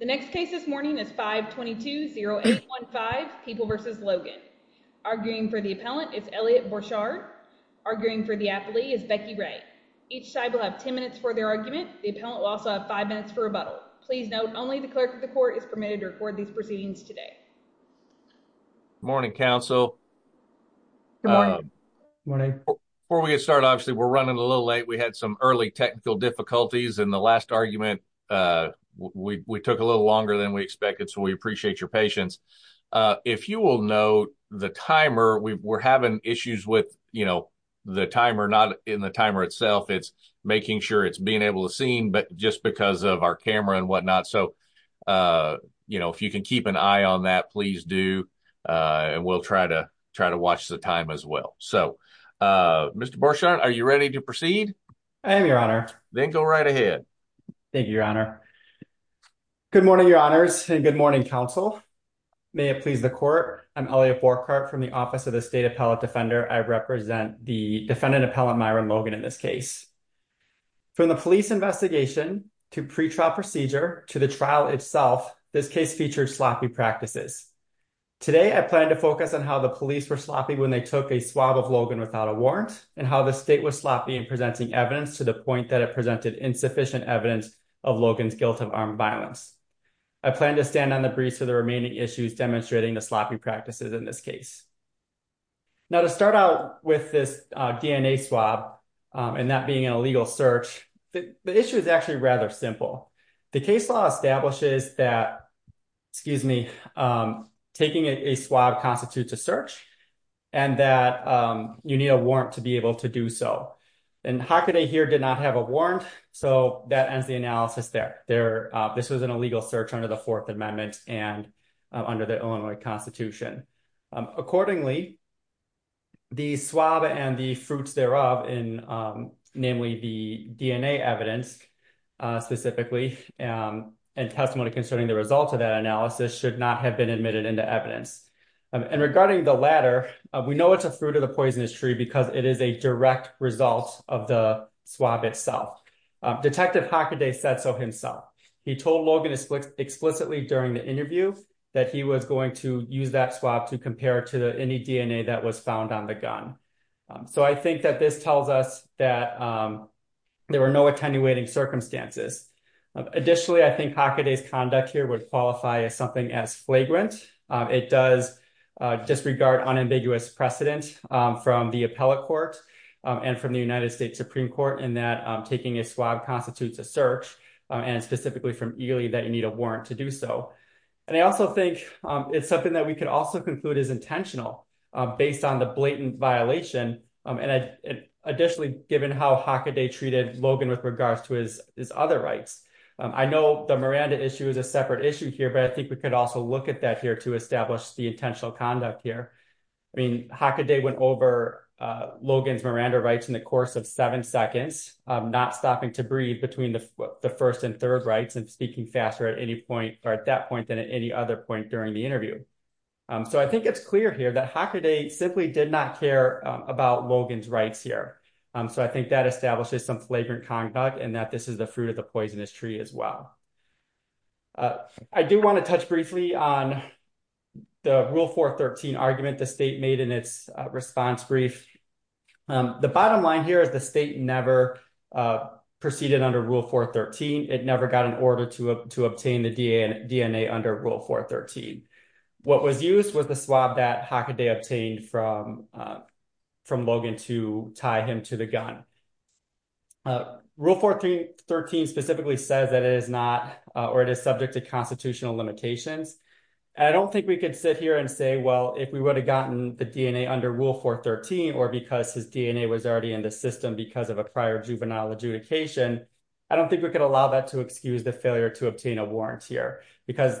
The next case this morning is 522-0815, People v. Logan. Arguing for the appellant is Elliott Bourchard. Arguing for the athlete is Becky Ray. Each side will have 10 minutes for their argument. The appellant will also have five minutes for rebuttal. Please note only the clerk of the court is permitted to record these proceedings today. Good morning, counsel. Good morning. Before we get started, obviously we're running a little late. We had some early technical difficulties in the last argument. We took a little longer than we expected, so we appreciate your patience. If you will note, the timer, we're having issues with, you know, the timer, not in the timer itself. It's making sure it's being able to seen, but just because of our camera and whatnot. So, you know, if you can keep an eye on that, please do, and we'll try to watch the time as well. So, Mr. Bourchard, are you ready to proceed? I am, your honor. Then go right ahead. Thank you, your honor. Good morning, your honors, and good morning, counsel. May it please the court, I'm Elliott Bourchard from the Office of the State Appellate Defender. I represent the defendant appellant Myron Logan in this case. From the police investigation, to pretrial procedure, to the trial itself, this case featured sloppy practices. Today, I plan to focus on how the police were sloppy when they took a swab of Logan without a warrant, and how the state was sloppy in presenting evidence to the point that it presented insufficient evidence of Logan's guilt of armed violence. I plan to stand on the briefs of the remaining issues demonstrating the sloppy practices in this case. Now, to start out with this DNA swab, and that being an illegal search, the issue is actually rather simple. The case law establishes that, excuse me, taking a swab constitutes a search, and that you need a warrant to be able to do so. And Hockaday here did not have a warrant, so that ends the analysis there. This was an illegal search under the Fourth Amendment and under the Illinois Constitution. Accordingly, the swab and the fruits thereof, namely the DNA evidence specifically, and testimony concerning the results of that analysis, should not have been admitted into evidence. And regarding the latter, we know it's a fruit of the poisonous tree because it is a direct result of the swab itself. Detective Hockaday said so himself. He told Logan explicitly during the interview that he was going to use that swab to compare to any DNA that was found on the gun. So I think that this tells us that there were no attenuating circumstances. Additionally, I think Hockaday's conduct here would qualify as something as flagrant. It does disregard unambiguous precedent from the appellate court and from the United States Supreme Court in that taking a swab constitutes a search, and specifically from Ely, that you need a warrant to do so. And I also think it's something that we could also conclude is intentional based on the blatant violation, and additionally, given how Hockaday treated Logan with regards to his other rights. I know the Miranda issue is a separate issue here, but I think we could also look at that here to establish the intentional conduct here. I mean, Hockaday went over Logan's Miranda rights in the course of seven seconds, not stopping to breathe between the first and third rights and speaking faster at any point, or at that point, than at any other point during the interview. So I think it's clear here that Hockaday simply did not care about Logan's rights here. So I think that establishes some flagrant conduct and that this is the fruit of the poisonous tree as well. I do want to touch briefly on the Rule 413 argument the state made in its response brief. The bottom line here is the state never proceeded under Rule 413. It never got an order to obtain the DNA under Rule 413. What was used was the swab that Hockaday obtained from Logan to tie him to the gun. Rule 413 specifically says that it is not, or it is subject to constitutional limitations. I don't think we could sit here and say, well, if we would have gotten the DNA under Rule 413, or because his DNA was already in the system because of a prior juvenile adjudication, I don't think we could allow that to excuse the failure to obtain a warrant here, because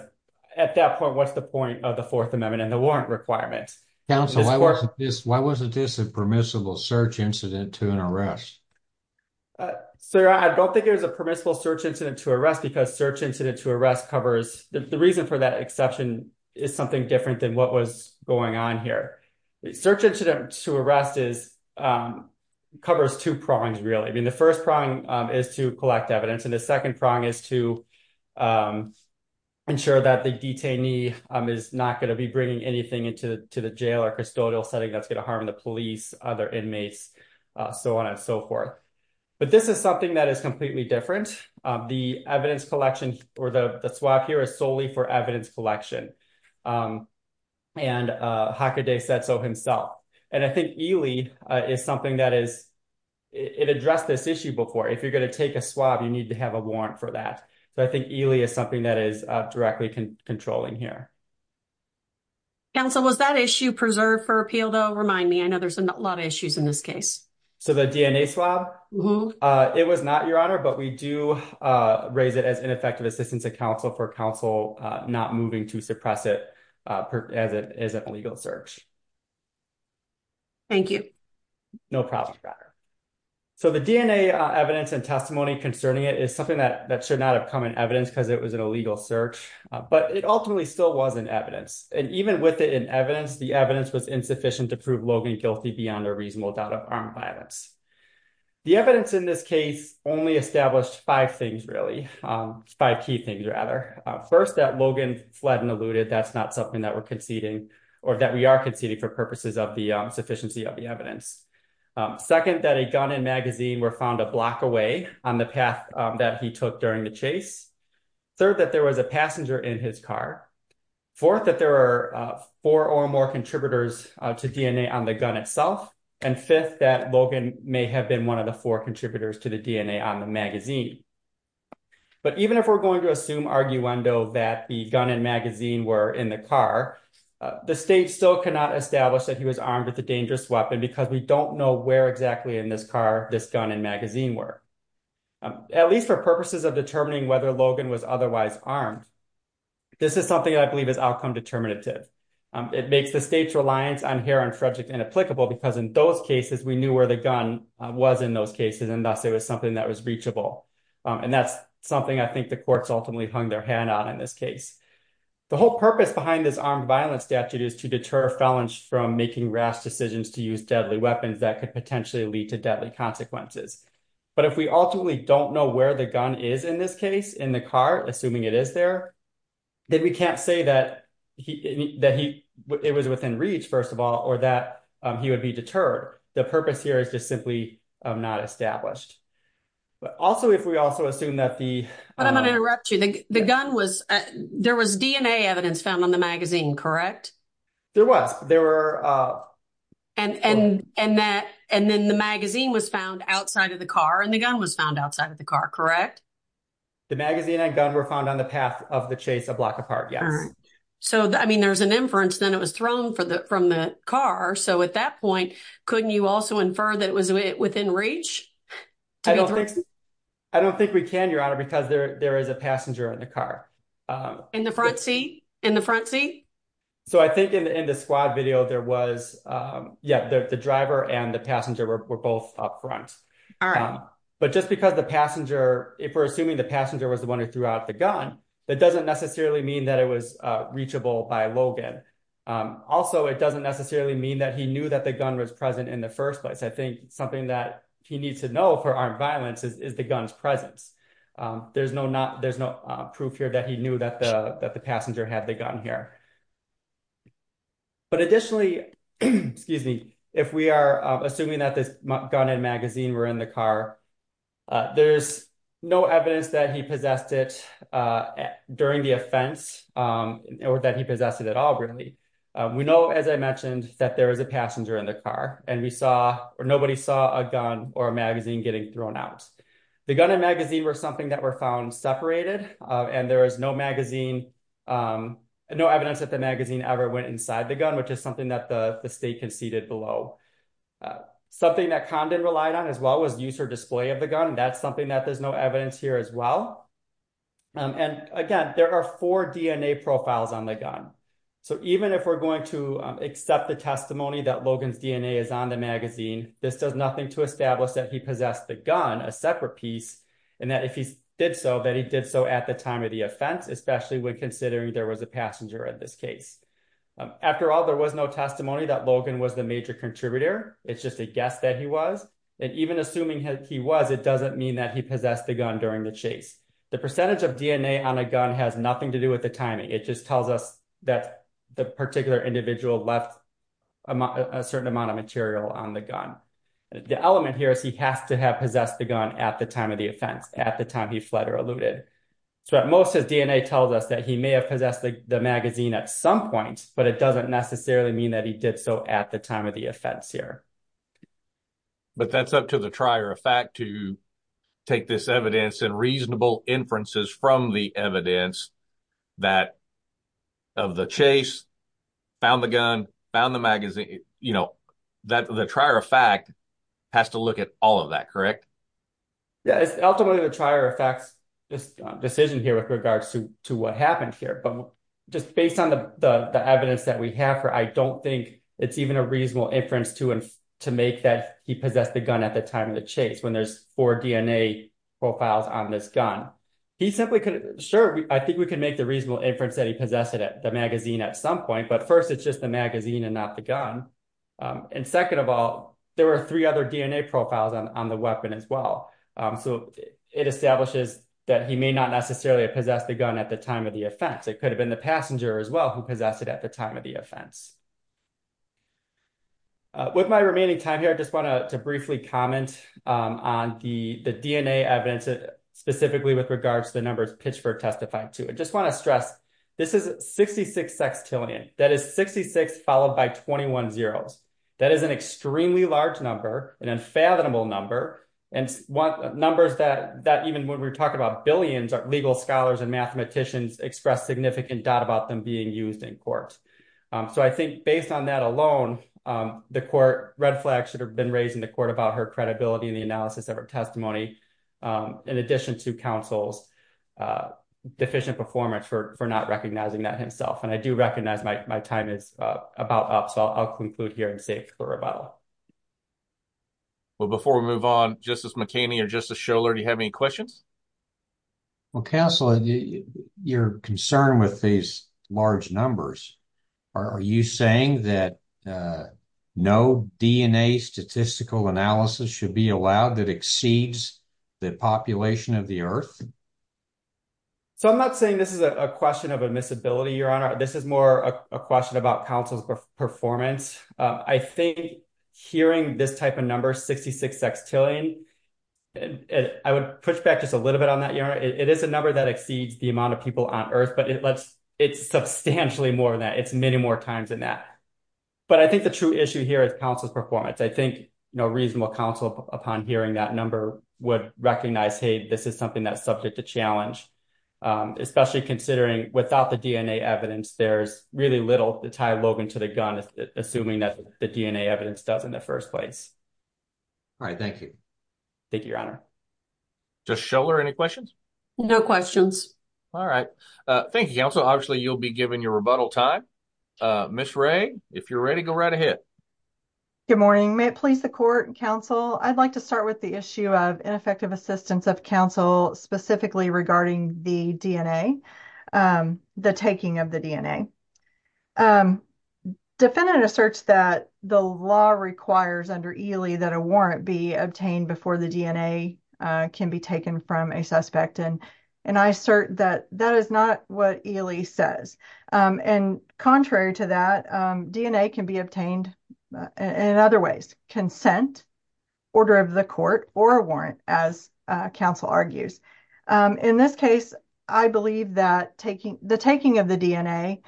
at that point, what's the point of the Fourth Amendment and the warrant requirement? Council, why wasn't this a permissible search incident to an arrest? Sir, I don't think it was a permissible search incident to arrest, because search incident to arrest covers, the reason for that exception is something different than what was going on here. Search incident to arrest covers two prongs, really. I mean, the first prong is to collect evidence, and the second prong is to ensure that the detainee is not going to be bringing anything into the jail or custodial setting that's going to so on and so forth. But this is something that is completely different. The evidence collection, or the swab here is solely for evidence collection, and Hakaday said so himself. And I think Ely is something that is, it addressed this issue before. If you're going to take a swab, you need to have a warrant for that. So I think Ely is something that is directly controlling here. Council, was that issue preserved for appeal, though? Remind me, I know there's a lot of issues in this case. So the DNA swab, it was not, Your Honor, but we do raise it as ineffective assistance to counsel for counsel not moving to suppress it as an illegal search. Thank you. No problem, Your Honor. So the DNA evidence and testimony concerning it is something that should not have come in evidence because it was an illegal search, but it ultimately still wasn't evidence. And even with it in evidence, the evidence was insufficient to prove Logan guilty beyond a reasonable doubt of armed violence. The evidence in this case only established five things, really, five key things, rather. First, that Logan fled and eluded, that's not something that we're conceding, or that we are conceding for purposes of the sufficiency of the evidence. Second, that a gun and magazine were found a block away on the path that he took during the chase. Third, that there was a passenger in his car. Fourth, that there are four or more contributors to DNA on the gun itself. And fifth, that Logan may have been one of the four contributors to the DNA on the magazine. But even if we're going to assume arguendo that the gun and magazine were in the car, the state still cannot establish that he was armed with a dangerous weapon because we don't know where exactly in this car this gun and magazine were. At least for purposes of determining whether Logan was otherwise armed, this is something that I believe is outcome determinative. It makes the state's reliance on Harron Frederick inapplicable because in those cases, we knew where the gun was in those cases, and thus it was something that was reachable. And that's something I think the courts ultimately hung their hand on in this case. The whole purpose behind this armed violence statute is to deter felons from making rash decisions to use deadly weapons that could potentially lead to deadly consequences. But if we ultimately don't know where the gun is in this case, in the car, assuming it is there, then we can't say that it was within reach, first of all, or that he would be deterred. The purpose here is just simply not established. But also if we also assume that the... But I'm going to interrupt you. There was DNA evidence found on the magazine, correct? There was. And then the magazine was found outside of the car and the gun was found outside of the car, correct? The magazine and gun were found on the path of the chase a block apart, yes. So, I mean, there's an inference then it was thrown from the car. So at that point, couldn't you also infer that it was within reach? I don't think we can, Your Honor, because there is a passenger in the car. In the front seat? In the front seat? So I think in the squad video, there was... Yeah, the driver and the passenger were both up front. But just because the passenger... If we're assuming the passenger was the gun, that doesn't necessarily mean that it was reachable by Logan. Also, it doesn't necessarily mean that he knew that the gun was present in the first place. I think something that he needs to know for armed violence is the gun's presence. There's no proof here that he knew that the passenger had the gun here. But additionally, excuse me, if we are assuming that this gun and magazine were in the car, there's no evidence that he possessed it. During the offense, or that he possessed it at all, really. We know, as I mentioned, that there was a passenger in the car and we saw or nobody saw a gun or a magazine getting thrown out. The gun and magazine were something that were found separated. And there is no magazine, no evidence that the magazine ever went inside the gun, which is something that the state conceded below. Something that Condon relied on as well was user display of the gun. That's something that there's no evidence here as well. And again, there are four DNA profiles on the gun. So even if we're going to accept the testimony that Logan's DNA is on the magazine, this does nothing to establish that he possessed the gun, a separate piece, and that if he did so, that he did so at the time of the offense, especially when considering there was a passenger in this case. After all, there was no testimony that Logan was the major contributor. It's just a guess that he was. And even assuming he was, it doesn't mean that he possessed the gun during the chase. The percentage of DNA on a gun has nothing to do with the timing. It just tells us that the particular individual left a certain amount of material on the gun. The element here is he has to have possessed the gun at the time of the offense, at the time he fled or eluded. So at most, his DNA tells us that he may have possessed the magazine at some point, but it doesn't necessarily mean that he did so at the time of the offense here. But that's up to the trier of fact to take this evidence and reasonable inferences from the evidence that of the chase, found the gun, found the magazine, you know, that the trier of fact has to look at all of that, correct? Yeah, it's ultimately the trier of facts, this decision here with regards to what happened here. But just based on the evidence that we have here, I don't think it's even a to make that he possessed the gun at the time of the chase when there's four DNA profiles on this gun. Sure, I think we can make the reasonable inference that he possessed the magazine at some point, but first, it's just the magazine and not the gun. And second of all, there were three other DNA profiles on the weapon as well. So it establishes that he may not necessarily have possessed the gun at the time of the offense. It could have been the passenger as well who possessed it at the time of the offense. With my remaining time here, I just want to briefly comment on the DNA evidence, specifically with regards to the numbers pitched for testifying to it. Just want to stress, this is 66 sextillion. That is 66 followed by 21 zeros. That is an extremely large number, an unfathomable number, and numbers that even when we're talking about billions of legal scholars and mathematicians express significant doubt about them being used in court. So I think based on that alone, Red Flag should have been raising the court about her credibility and the analysis of her testimony, in addition to counsel's deficient performance for not recognizing that himself. And I do recognize my time is about up, so I'll conclude here and save for rebuttal. Well, before we move on, Justice McKinney or Justice Scholar, do you have any questions? Well, counsel, your concern with these large numbers, are you saying that no DNA statistical analysis should be allowed that exceeds the population of the earth? So I'm not saying this is a question of admissibility, Your Honor. This is more a question about counsel's performance. I think hearing this type of number, 66 sextillion, I would push back to a little bit on that, Your Honor. It is a number that exceeds the amount of people on earth, but it's substantially more than that. It's many more times than that. But I think the true issue here is counsel's performance. I think no reasonable counsel upon hearing that number would recognize, hey, this is something that's subject to challenge, especially considering without the DNA evidence, there's really little to tie Logan to the gun, assuming that the DNA evidence does in the first place. All right. Thank you. Thank you, Your Honor. Judge Schoeller, any questions? No questions. All right. Thank you, counsel. Obviously, you'll be given your rebuttal time. Ms. Wray, if you're ready, go right ahead. Good morning. May it please the court, counsel, I'd like to start with the issue of ineffective assistance of counsel, specifically regarding the DNA, the taking of the DNA. Defendant asserts that the law requires under Ely that a warrant be obtained before the DNA can be taken from a suspect. And I assert that that is not what Ely says. And contrary to that, DNA can be obtained in other ways, consent, order of the court, or a warrant, as counsel argues. In this case, I believe that the taking of the DNA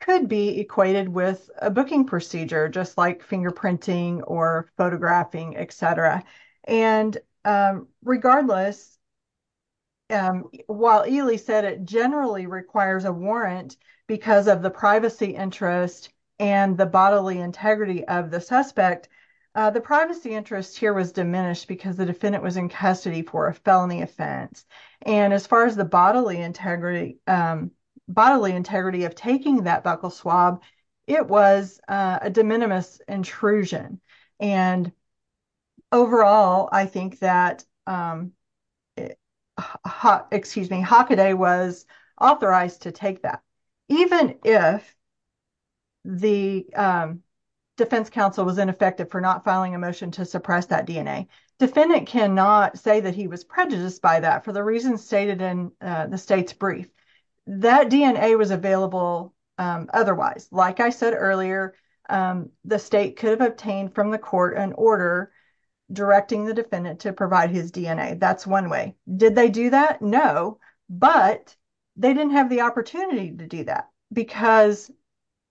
could be equated with a booking procedure, just like fingerprinting or photographing, et cetera. And regardless, while Ely said it generally requires a warrant because of the privacy interest and the bodily integrity of the suspect, the privacy interest here was diminished because the defendant was in custody for a felony offense. And as far as the bodily integrity of taking that buckle swab, it was a de minimis intrusion. And overall, I think that, excuse me, Hockaday was authorized to take that. Even if the defense counsel was ineffective for not filing a motion to suppress that DNA, defendant cannot say that he was prejudiced by that for the reasons stated in the state's brief. That DNA was available otherwise. Like I said earlier, the state could have obtained from the court an order directing the defendant to provide his DNA. That's one way. Did they do that? No, but they didn't have the opportunity to do that because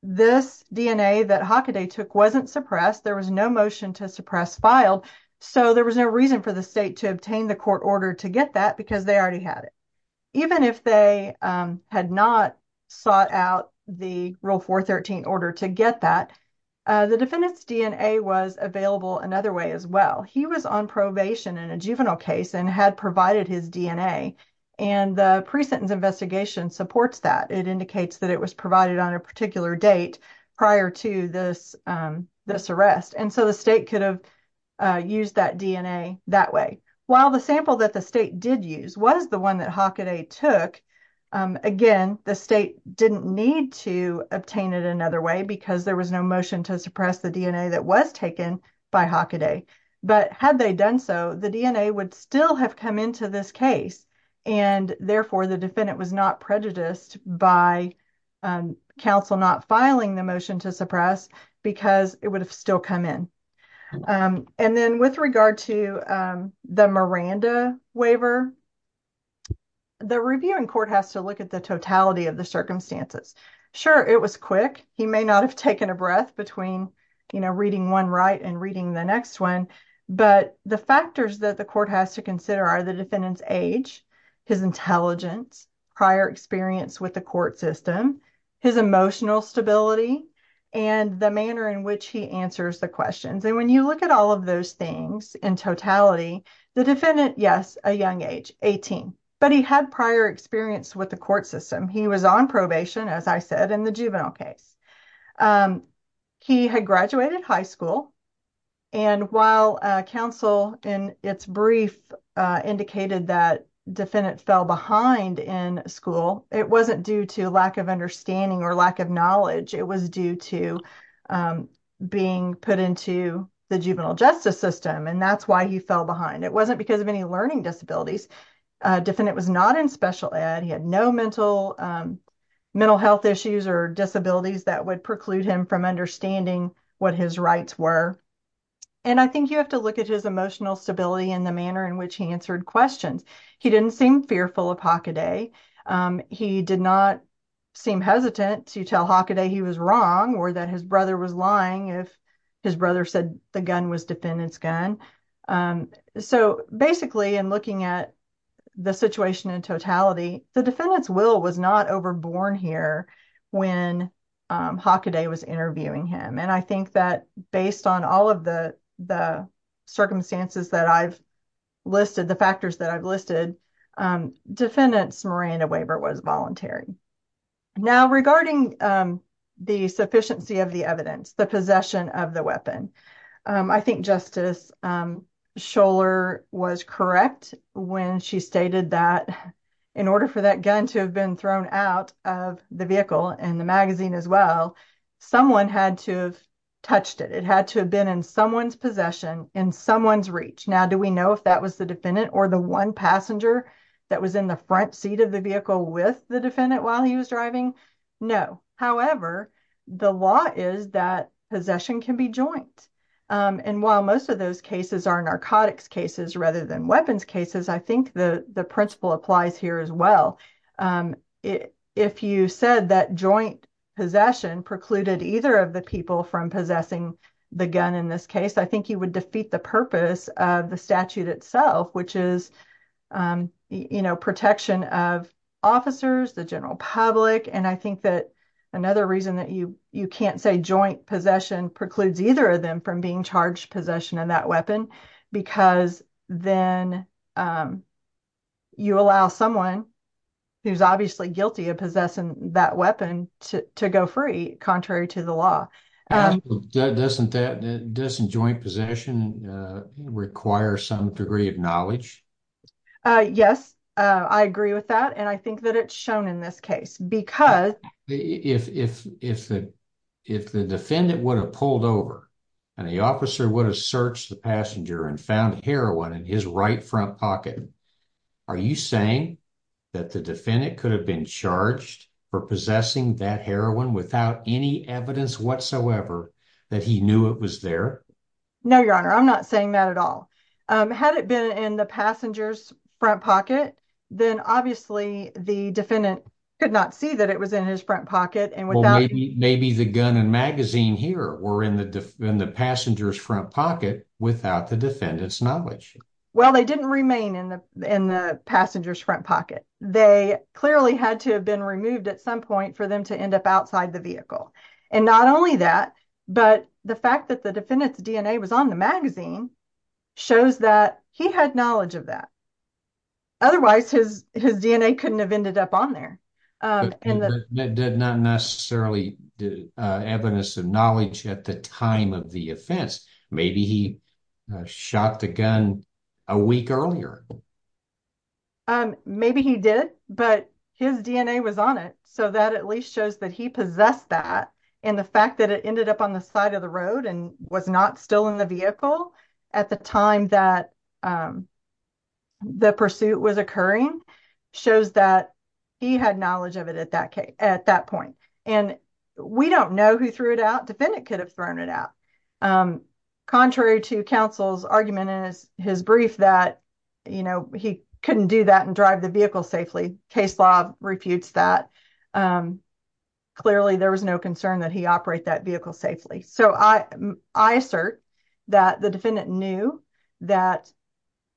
this DNA that Hockaday took wasn't suppressed. There was no motion to suppress filed, so there was no reason for the state to obtain the court order to get that because they already had it. Even if they had not sought out the Rule 413 order to get that, the defendant's DNA was available another way as well. He was on probation in a juvenile case and had provided his DNA, and the pre-sentence investigation supports that. It indicates that it was provided on a particular date prior to this arrest, and so the state could have used that DNA that way. While the sample that the state did use was the one that Hockaday took, again, the state didn't need to obtain it another way because there was no motion to suppress the DNA that was taken by Hockaday. But had they done so, the DNA would still have come into this case, and therefore the defendant was not prejudiced by counsel not filing the motion to suppress because it would have still come in. And then with regard to the Miranda waiver, the reviewing court has to look at the totality of the circumstances. Sure, it was quick. He may not have taken a breath between, you know, reading one right and reading the next one, but the factors that the court has to consider are the defendant's age, his intelligence, prior experience with the court system, his emotional stability, and the manner in which he answers the questions. And when you look at all of those things in totality, the defendant, yes, a young age, 18, but he had prior experience with the court system. He was on probation, as I said, in the juvenile case. He had graduated high school, and while counsel in its brief indicated that defendant fell behind in school, it wasn't due to lack of understanding or lack of knowledge. It was due to being put into the juvenile justice system, and that's why he fell behind. It wasn't because of any learning disabilities. Defendant was not in special ed. He had no mental health issues or disabilities that would preclude him from understanding what his rights were. And I think you have to look at his emotional stability and the manner in which he answered questions. He didn't seem fearful of Hockaday. He did not seem hesitant to tell Hockaday he was wrong or that his brother was lying if his brother said the gun was defendant's gun. So, basically, in looking at the situation in totality, the defendant's will was not overborne here when Hockaday was interviewing him. And I think that based on all of the circumstances that I've listed, the factors that I've listed, defendant's Miranda waiver was voluntary. Now, regarding the sufficiency of the evidence, the possession of the weapon, I think Justice Scholar was correct when she stated that in order for that gun to have been thrown out of the vehicle and the magazine as well, someone had to have touched it. It had to have been in someone's possession, in someone's reach. Now, do we know if that was the defendant or the one passenger that was in the front seat of the vehicle with the defendant while he was driving? No. However, the law is that possession can be joint. And while most of those cases are narcotics cases rather than weapons cases, I think the principle applies here as well. If you said that joint possession precluded either of the people from possessing the gun in this case, I think you would defeat the purpose of the statute itself, which is, you know, protection of officers, the general public. And I think that another reason that you can't say joint possession precludes either of them from being charged possession of that weapon, because then you allow someone who's obviously guilty of possessing that weapon to go free, contrary to the law. Doesn't that, doesn't joint possession require some degree of knowledge? Yes, I agree with that. And I think that it's shown in this case, because... If the defendant would have pulled over and the officer would have searched the passenger and found heroin in his right front pocket, are you saying that the defendant could have been charged for possessing that heroin without any evidence whatsoever that he knew it was there? No, Your Honor, I'm not saying that at all. Had it been in the passenger's front pocket, then obviously the defendant could not see that it was in his front pocket and without... Maybe the gun and magazine here were in the passenger's front pocket without the defendant's Well, they didn't remain in the passenger's front pocket. They clearly had to have been removed at some point for them to end up outside the vehicle. And not only that, but the fact that the defendant's DNA was on the magazine shows that he had knowledge of that. Otherwise, his DNA couldn't have ended up on there. Not necessarily evidence of knowledge at the time of the offense. Maybe he shot the gun a week earlier. Maybe he did, but his DNA was on it. So that at least shows that he possessed that and the fact that it ended up on the side of the road and was not still in the vehicle at the time that the pursuit was occurring shows that he had knowledge of it at that point. And we don't know who threw it out. Defendant could have thrown it out. Contrary to counsel's argument in his brief that he couldn't do that and drive the vehicle safely. Case law refutes that. Clearly, there was no concern that he operate that vehicle safely. So I assert that the defendant knew that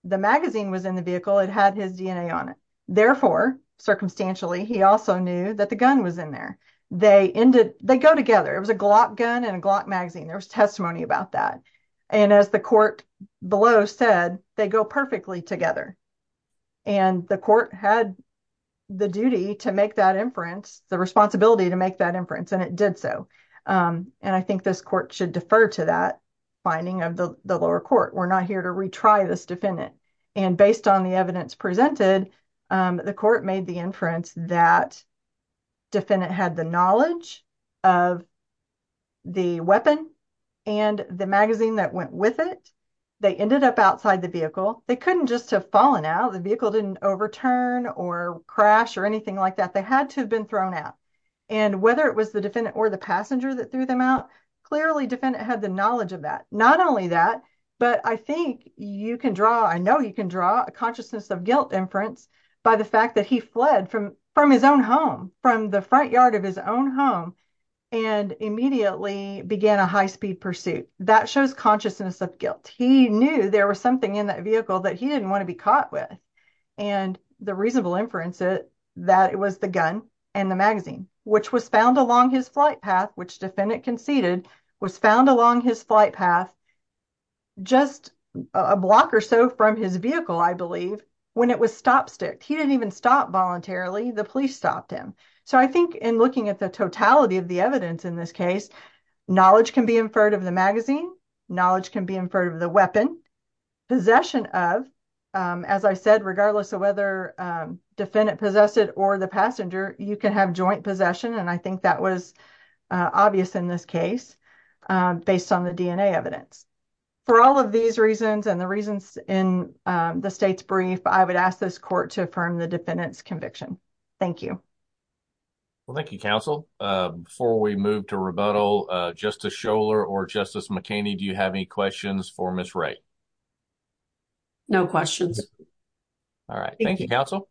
the magazine was in the vehicle. It had his DNA on it. Therefore, circumstantially, he also knew that the gun was in there. They go together. It was a Glock gun and a Glock magazine. There was testimony about that. And as the court below said, they go perfectly together. And the court had the duty to make that inference, the responsibility to make that inference, and it did so. And I think this court should defer to that finding of the lower court. We're not here to retry this defendant. And based on the evidence presented, the court made the inference that defendant had the of the weapon and the magazine that went with it. They ended up outside the vehicle. They couldn't just have fallen out. The vehicle didn't overturn or crash or anything like that. They had to have been thrown out. And whether it was the defendant or the passenger that threw them out, clearly, defendant had the knowledge of that. Not only that, but I think you can draw, I know you can draw a consciousness of guilt inference by the fact that he fled from his own home, from the front yard of his own home, and immediately began a high-speed pursuit. That shows consciousness of guilt. He knew there was something in that vehicle that he didn't want to be caught with. And the reasonable inference is that it was the gun and the magazine, which was found along his flight path, which defendant conceded was found along his flight path, just a block or so from his vehicle, I believe, when it was stop stick. He didn't even stop voluntarily. The police stopped him. So, I think in looking at the totality of the evidence in this case, knowledge can be inferred of the magazine. Knowledge can be inferred of the weapon. Possession of, as I said, regardless of whether defendant possessed it or the passenger, you can have joint possession. And I think that was obvious in this case based on the DNA evidence. For all of these reasons and the reasons in the state's brief, I would ask this court to affirm the defendant's conviction. Thank you. Well, thank you, counsel. Before we move to rebuttal, Justice Scholar or Justice McKinney, do you have any questions for Ms. Wray? No questions. All right. Thank you, counsel.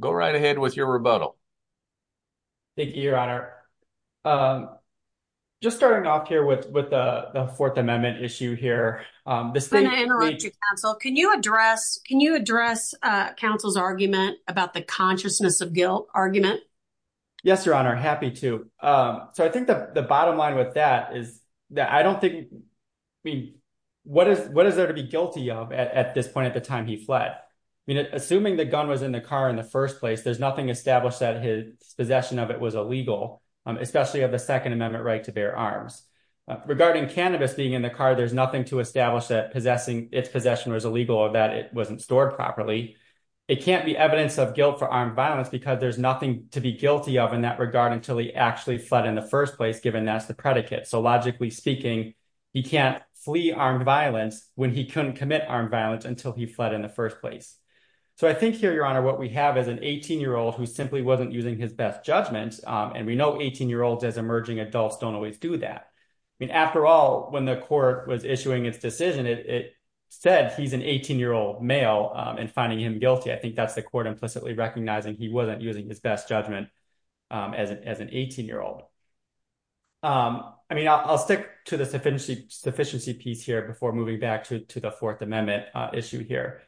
Go right ahead with your rebuttal. Thank you, Your Honor. Just starting off here with the Fourth Amendment issue here. I'm going to interrupt you, counsel. Can you address counsel's argument about the consciousness of guilt argument? Yes, Your Honor. Happy to. So, I think the bottom line with that is that I don't think, I mean, what is there to be guilty of at this point at the time he fled? I mean, assuming the gun was in the car in the first place, there's nothing established that his possession of it was illegal, especially of the Second Amendment right to bear arms. Regarding cannabis being in the car, there's nothing to establish that possessing its possession was illegal or that it wasn't stored properly. It can't be evidence of guilt for armed violence because there's nothing to be guilty of in that regard until he actually fled in the first place, given that's the predicate. So, logically speaking, he can't flee armed violence when he couldn't commit armed violence until he fled in the first place. So, I think here, Your Honor, what we have is an 18-year-old who simply wasn't using his best judgment, and we know 18-year-olds as emerging adults don't always do that. After all, when the court was issuing its decision, it said he's an 18-year-old male and finding him guilty, I think that's the court implicitly recognizing he wasn't using his best judgment as an 18-year-old. I mean, I'll stick to the sufficiency piece here before moving back to the Fourth Amendment issue here.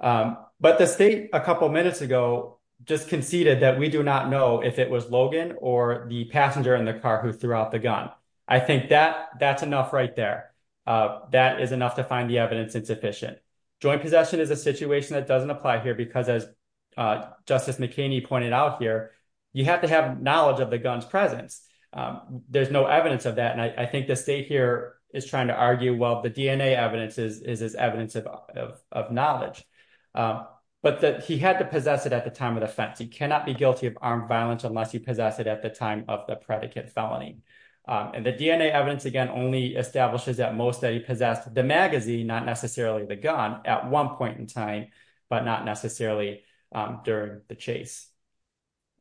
But the state a couple minutes ago just conceded that we do not know if it was Logan or the passenger in the car who threw out the gun. I think that's enough right there. That is enough to find the evidence insufficient. Joint possession is a situation that doesn't apply here because, as Justice McKinney pointed out here, you have to have knowledge of the gun's presence. There's no evidence of that, and I think the state here is trying to argue, well, the DNA evidence is evidence of knowledge. But he had to possess it at the time of the offense. He cannot be guilty of armed violence unless he possessed it at the time of the predicate felony. And the DNA evidence, again, only establishes that most that he possessed the magazine, not necessarily the gun at one point in time, but not necessarily during the chase.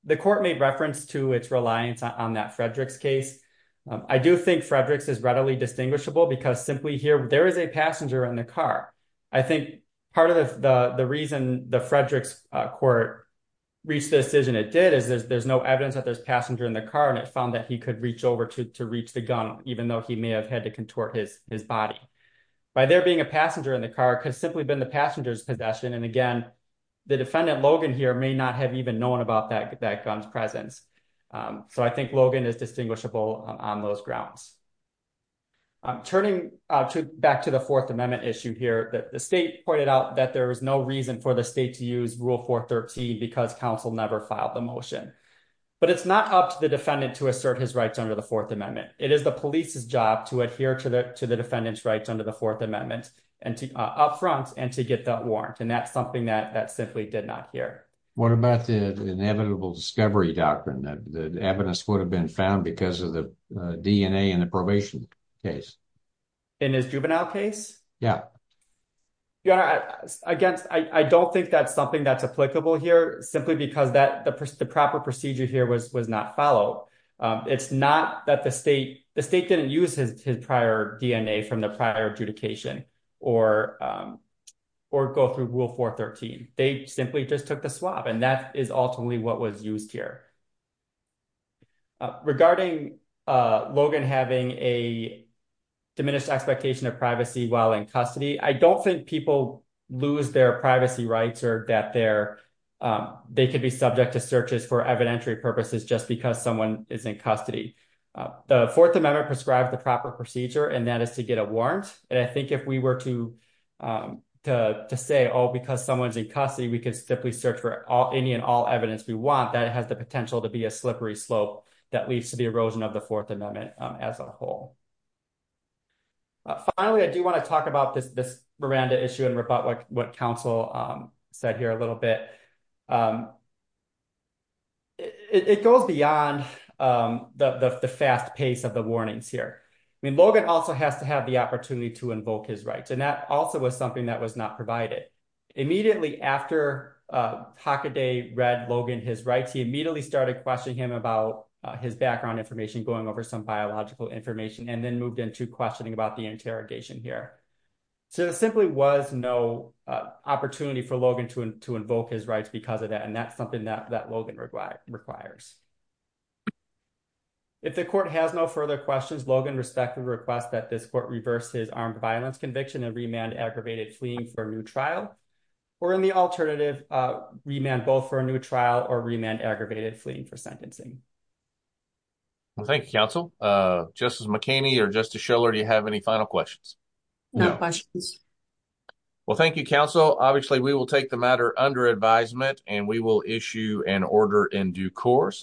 The court made reference to its reliance on that Frederick's case. I do think Frederick's is readily distinguishable because simply here there is a passenger in the car. I think part of the reason the Frederick's court reached the decision it did is there's no evidence that there's a passenger in the car, and it found that he could reach over to reach the gun, even though he may have had to contort his body. By there being a passenger in the car, it could have simply been the passenger's possession. And again, the defendant, Logan, here may not have even known about that gun's presence. So I think Logan is distinguishable on those grounds. Turning back to the Fourth Amendment issue here, the state pointed out that there is no reason for the state to use Rule 413 because counsel never filed the motion. But it's not up to the defendant to assert his rights under the Fourth Amendment. It is the police's job to adhere to the defendant's rights under the Fourth Amendment and to up front and to get that warrant. And that's something that simply did not hear. What about the inevitable discovery doctrine that the evidence would have been found because of the DNA in the probation case? In his juvenile case? Yeah. Your Honor, I don't think that's something that's applicable here simply because the proper procedure here was not followed. It's not that the state didn't use his prior DNA from the prior adjudication or go through Rule 413. They simply just took the swab. And that is ultimately what was used here. Regarding Logan having a diminished expectation of privacy while in custody, I don't think lose their privacy rights or that they could be subject to searches for evidentiary purposes just because someone is in custody. The Fourth Amendment prescribed the proper procedure, and that is to get a warrant. And I think if we were to say, oh, because someone's in custody, we could simply search for any and all evidence we want, that has the potential to be a slippery slope that leads to the erosion of the Fourth Amendment as a whole. Finally, I do want to talk about this Miranda issue and rebut what counsel said here a little bit. It goes beyond the fast pace of the warnings here. I mean, Logan also has to have the opportunity to invoke his rights. And that also was something that was not provided. Immediately after Hockaday read Logan his rights, he immediately started questioning him about his background information, going over some biological information that he had and then moved into questioning about the interrogation here. So there simply was no opportunity for Logan to invoke his rights because of that. And that's something that Logan requires. If the court has no further questions, Logan respectfully requests that this court reverse his armed violence conviction and remand aggravated fleeing for a new trial, or in the alternative, remand both for a new trial or remand aggravated fleeing for sentencing. Well, thank you, counsel. Justice McKinney or Justice Schiller, do you have any final questions? No questions. Well, thank you, counsel. Obviously, we will take the matter under advisement and we will issue an order in due course.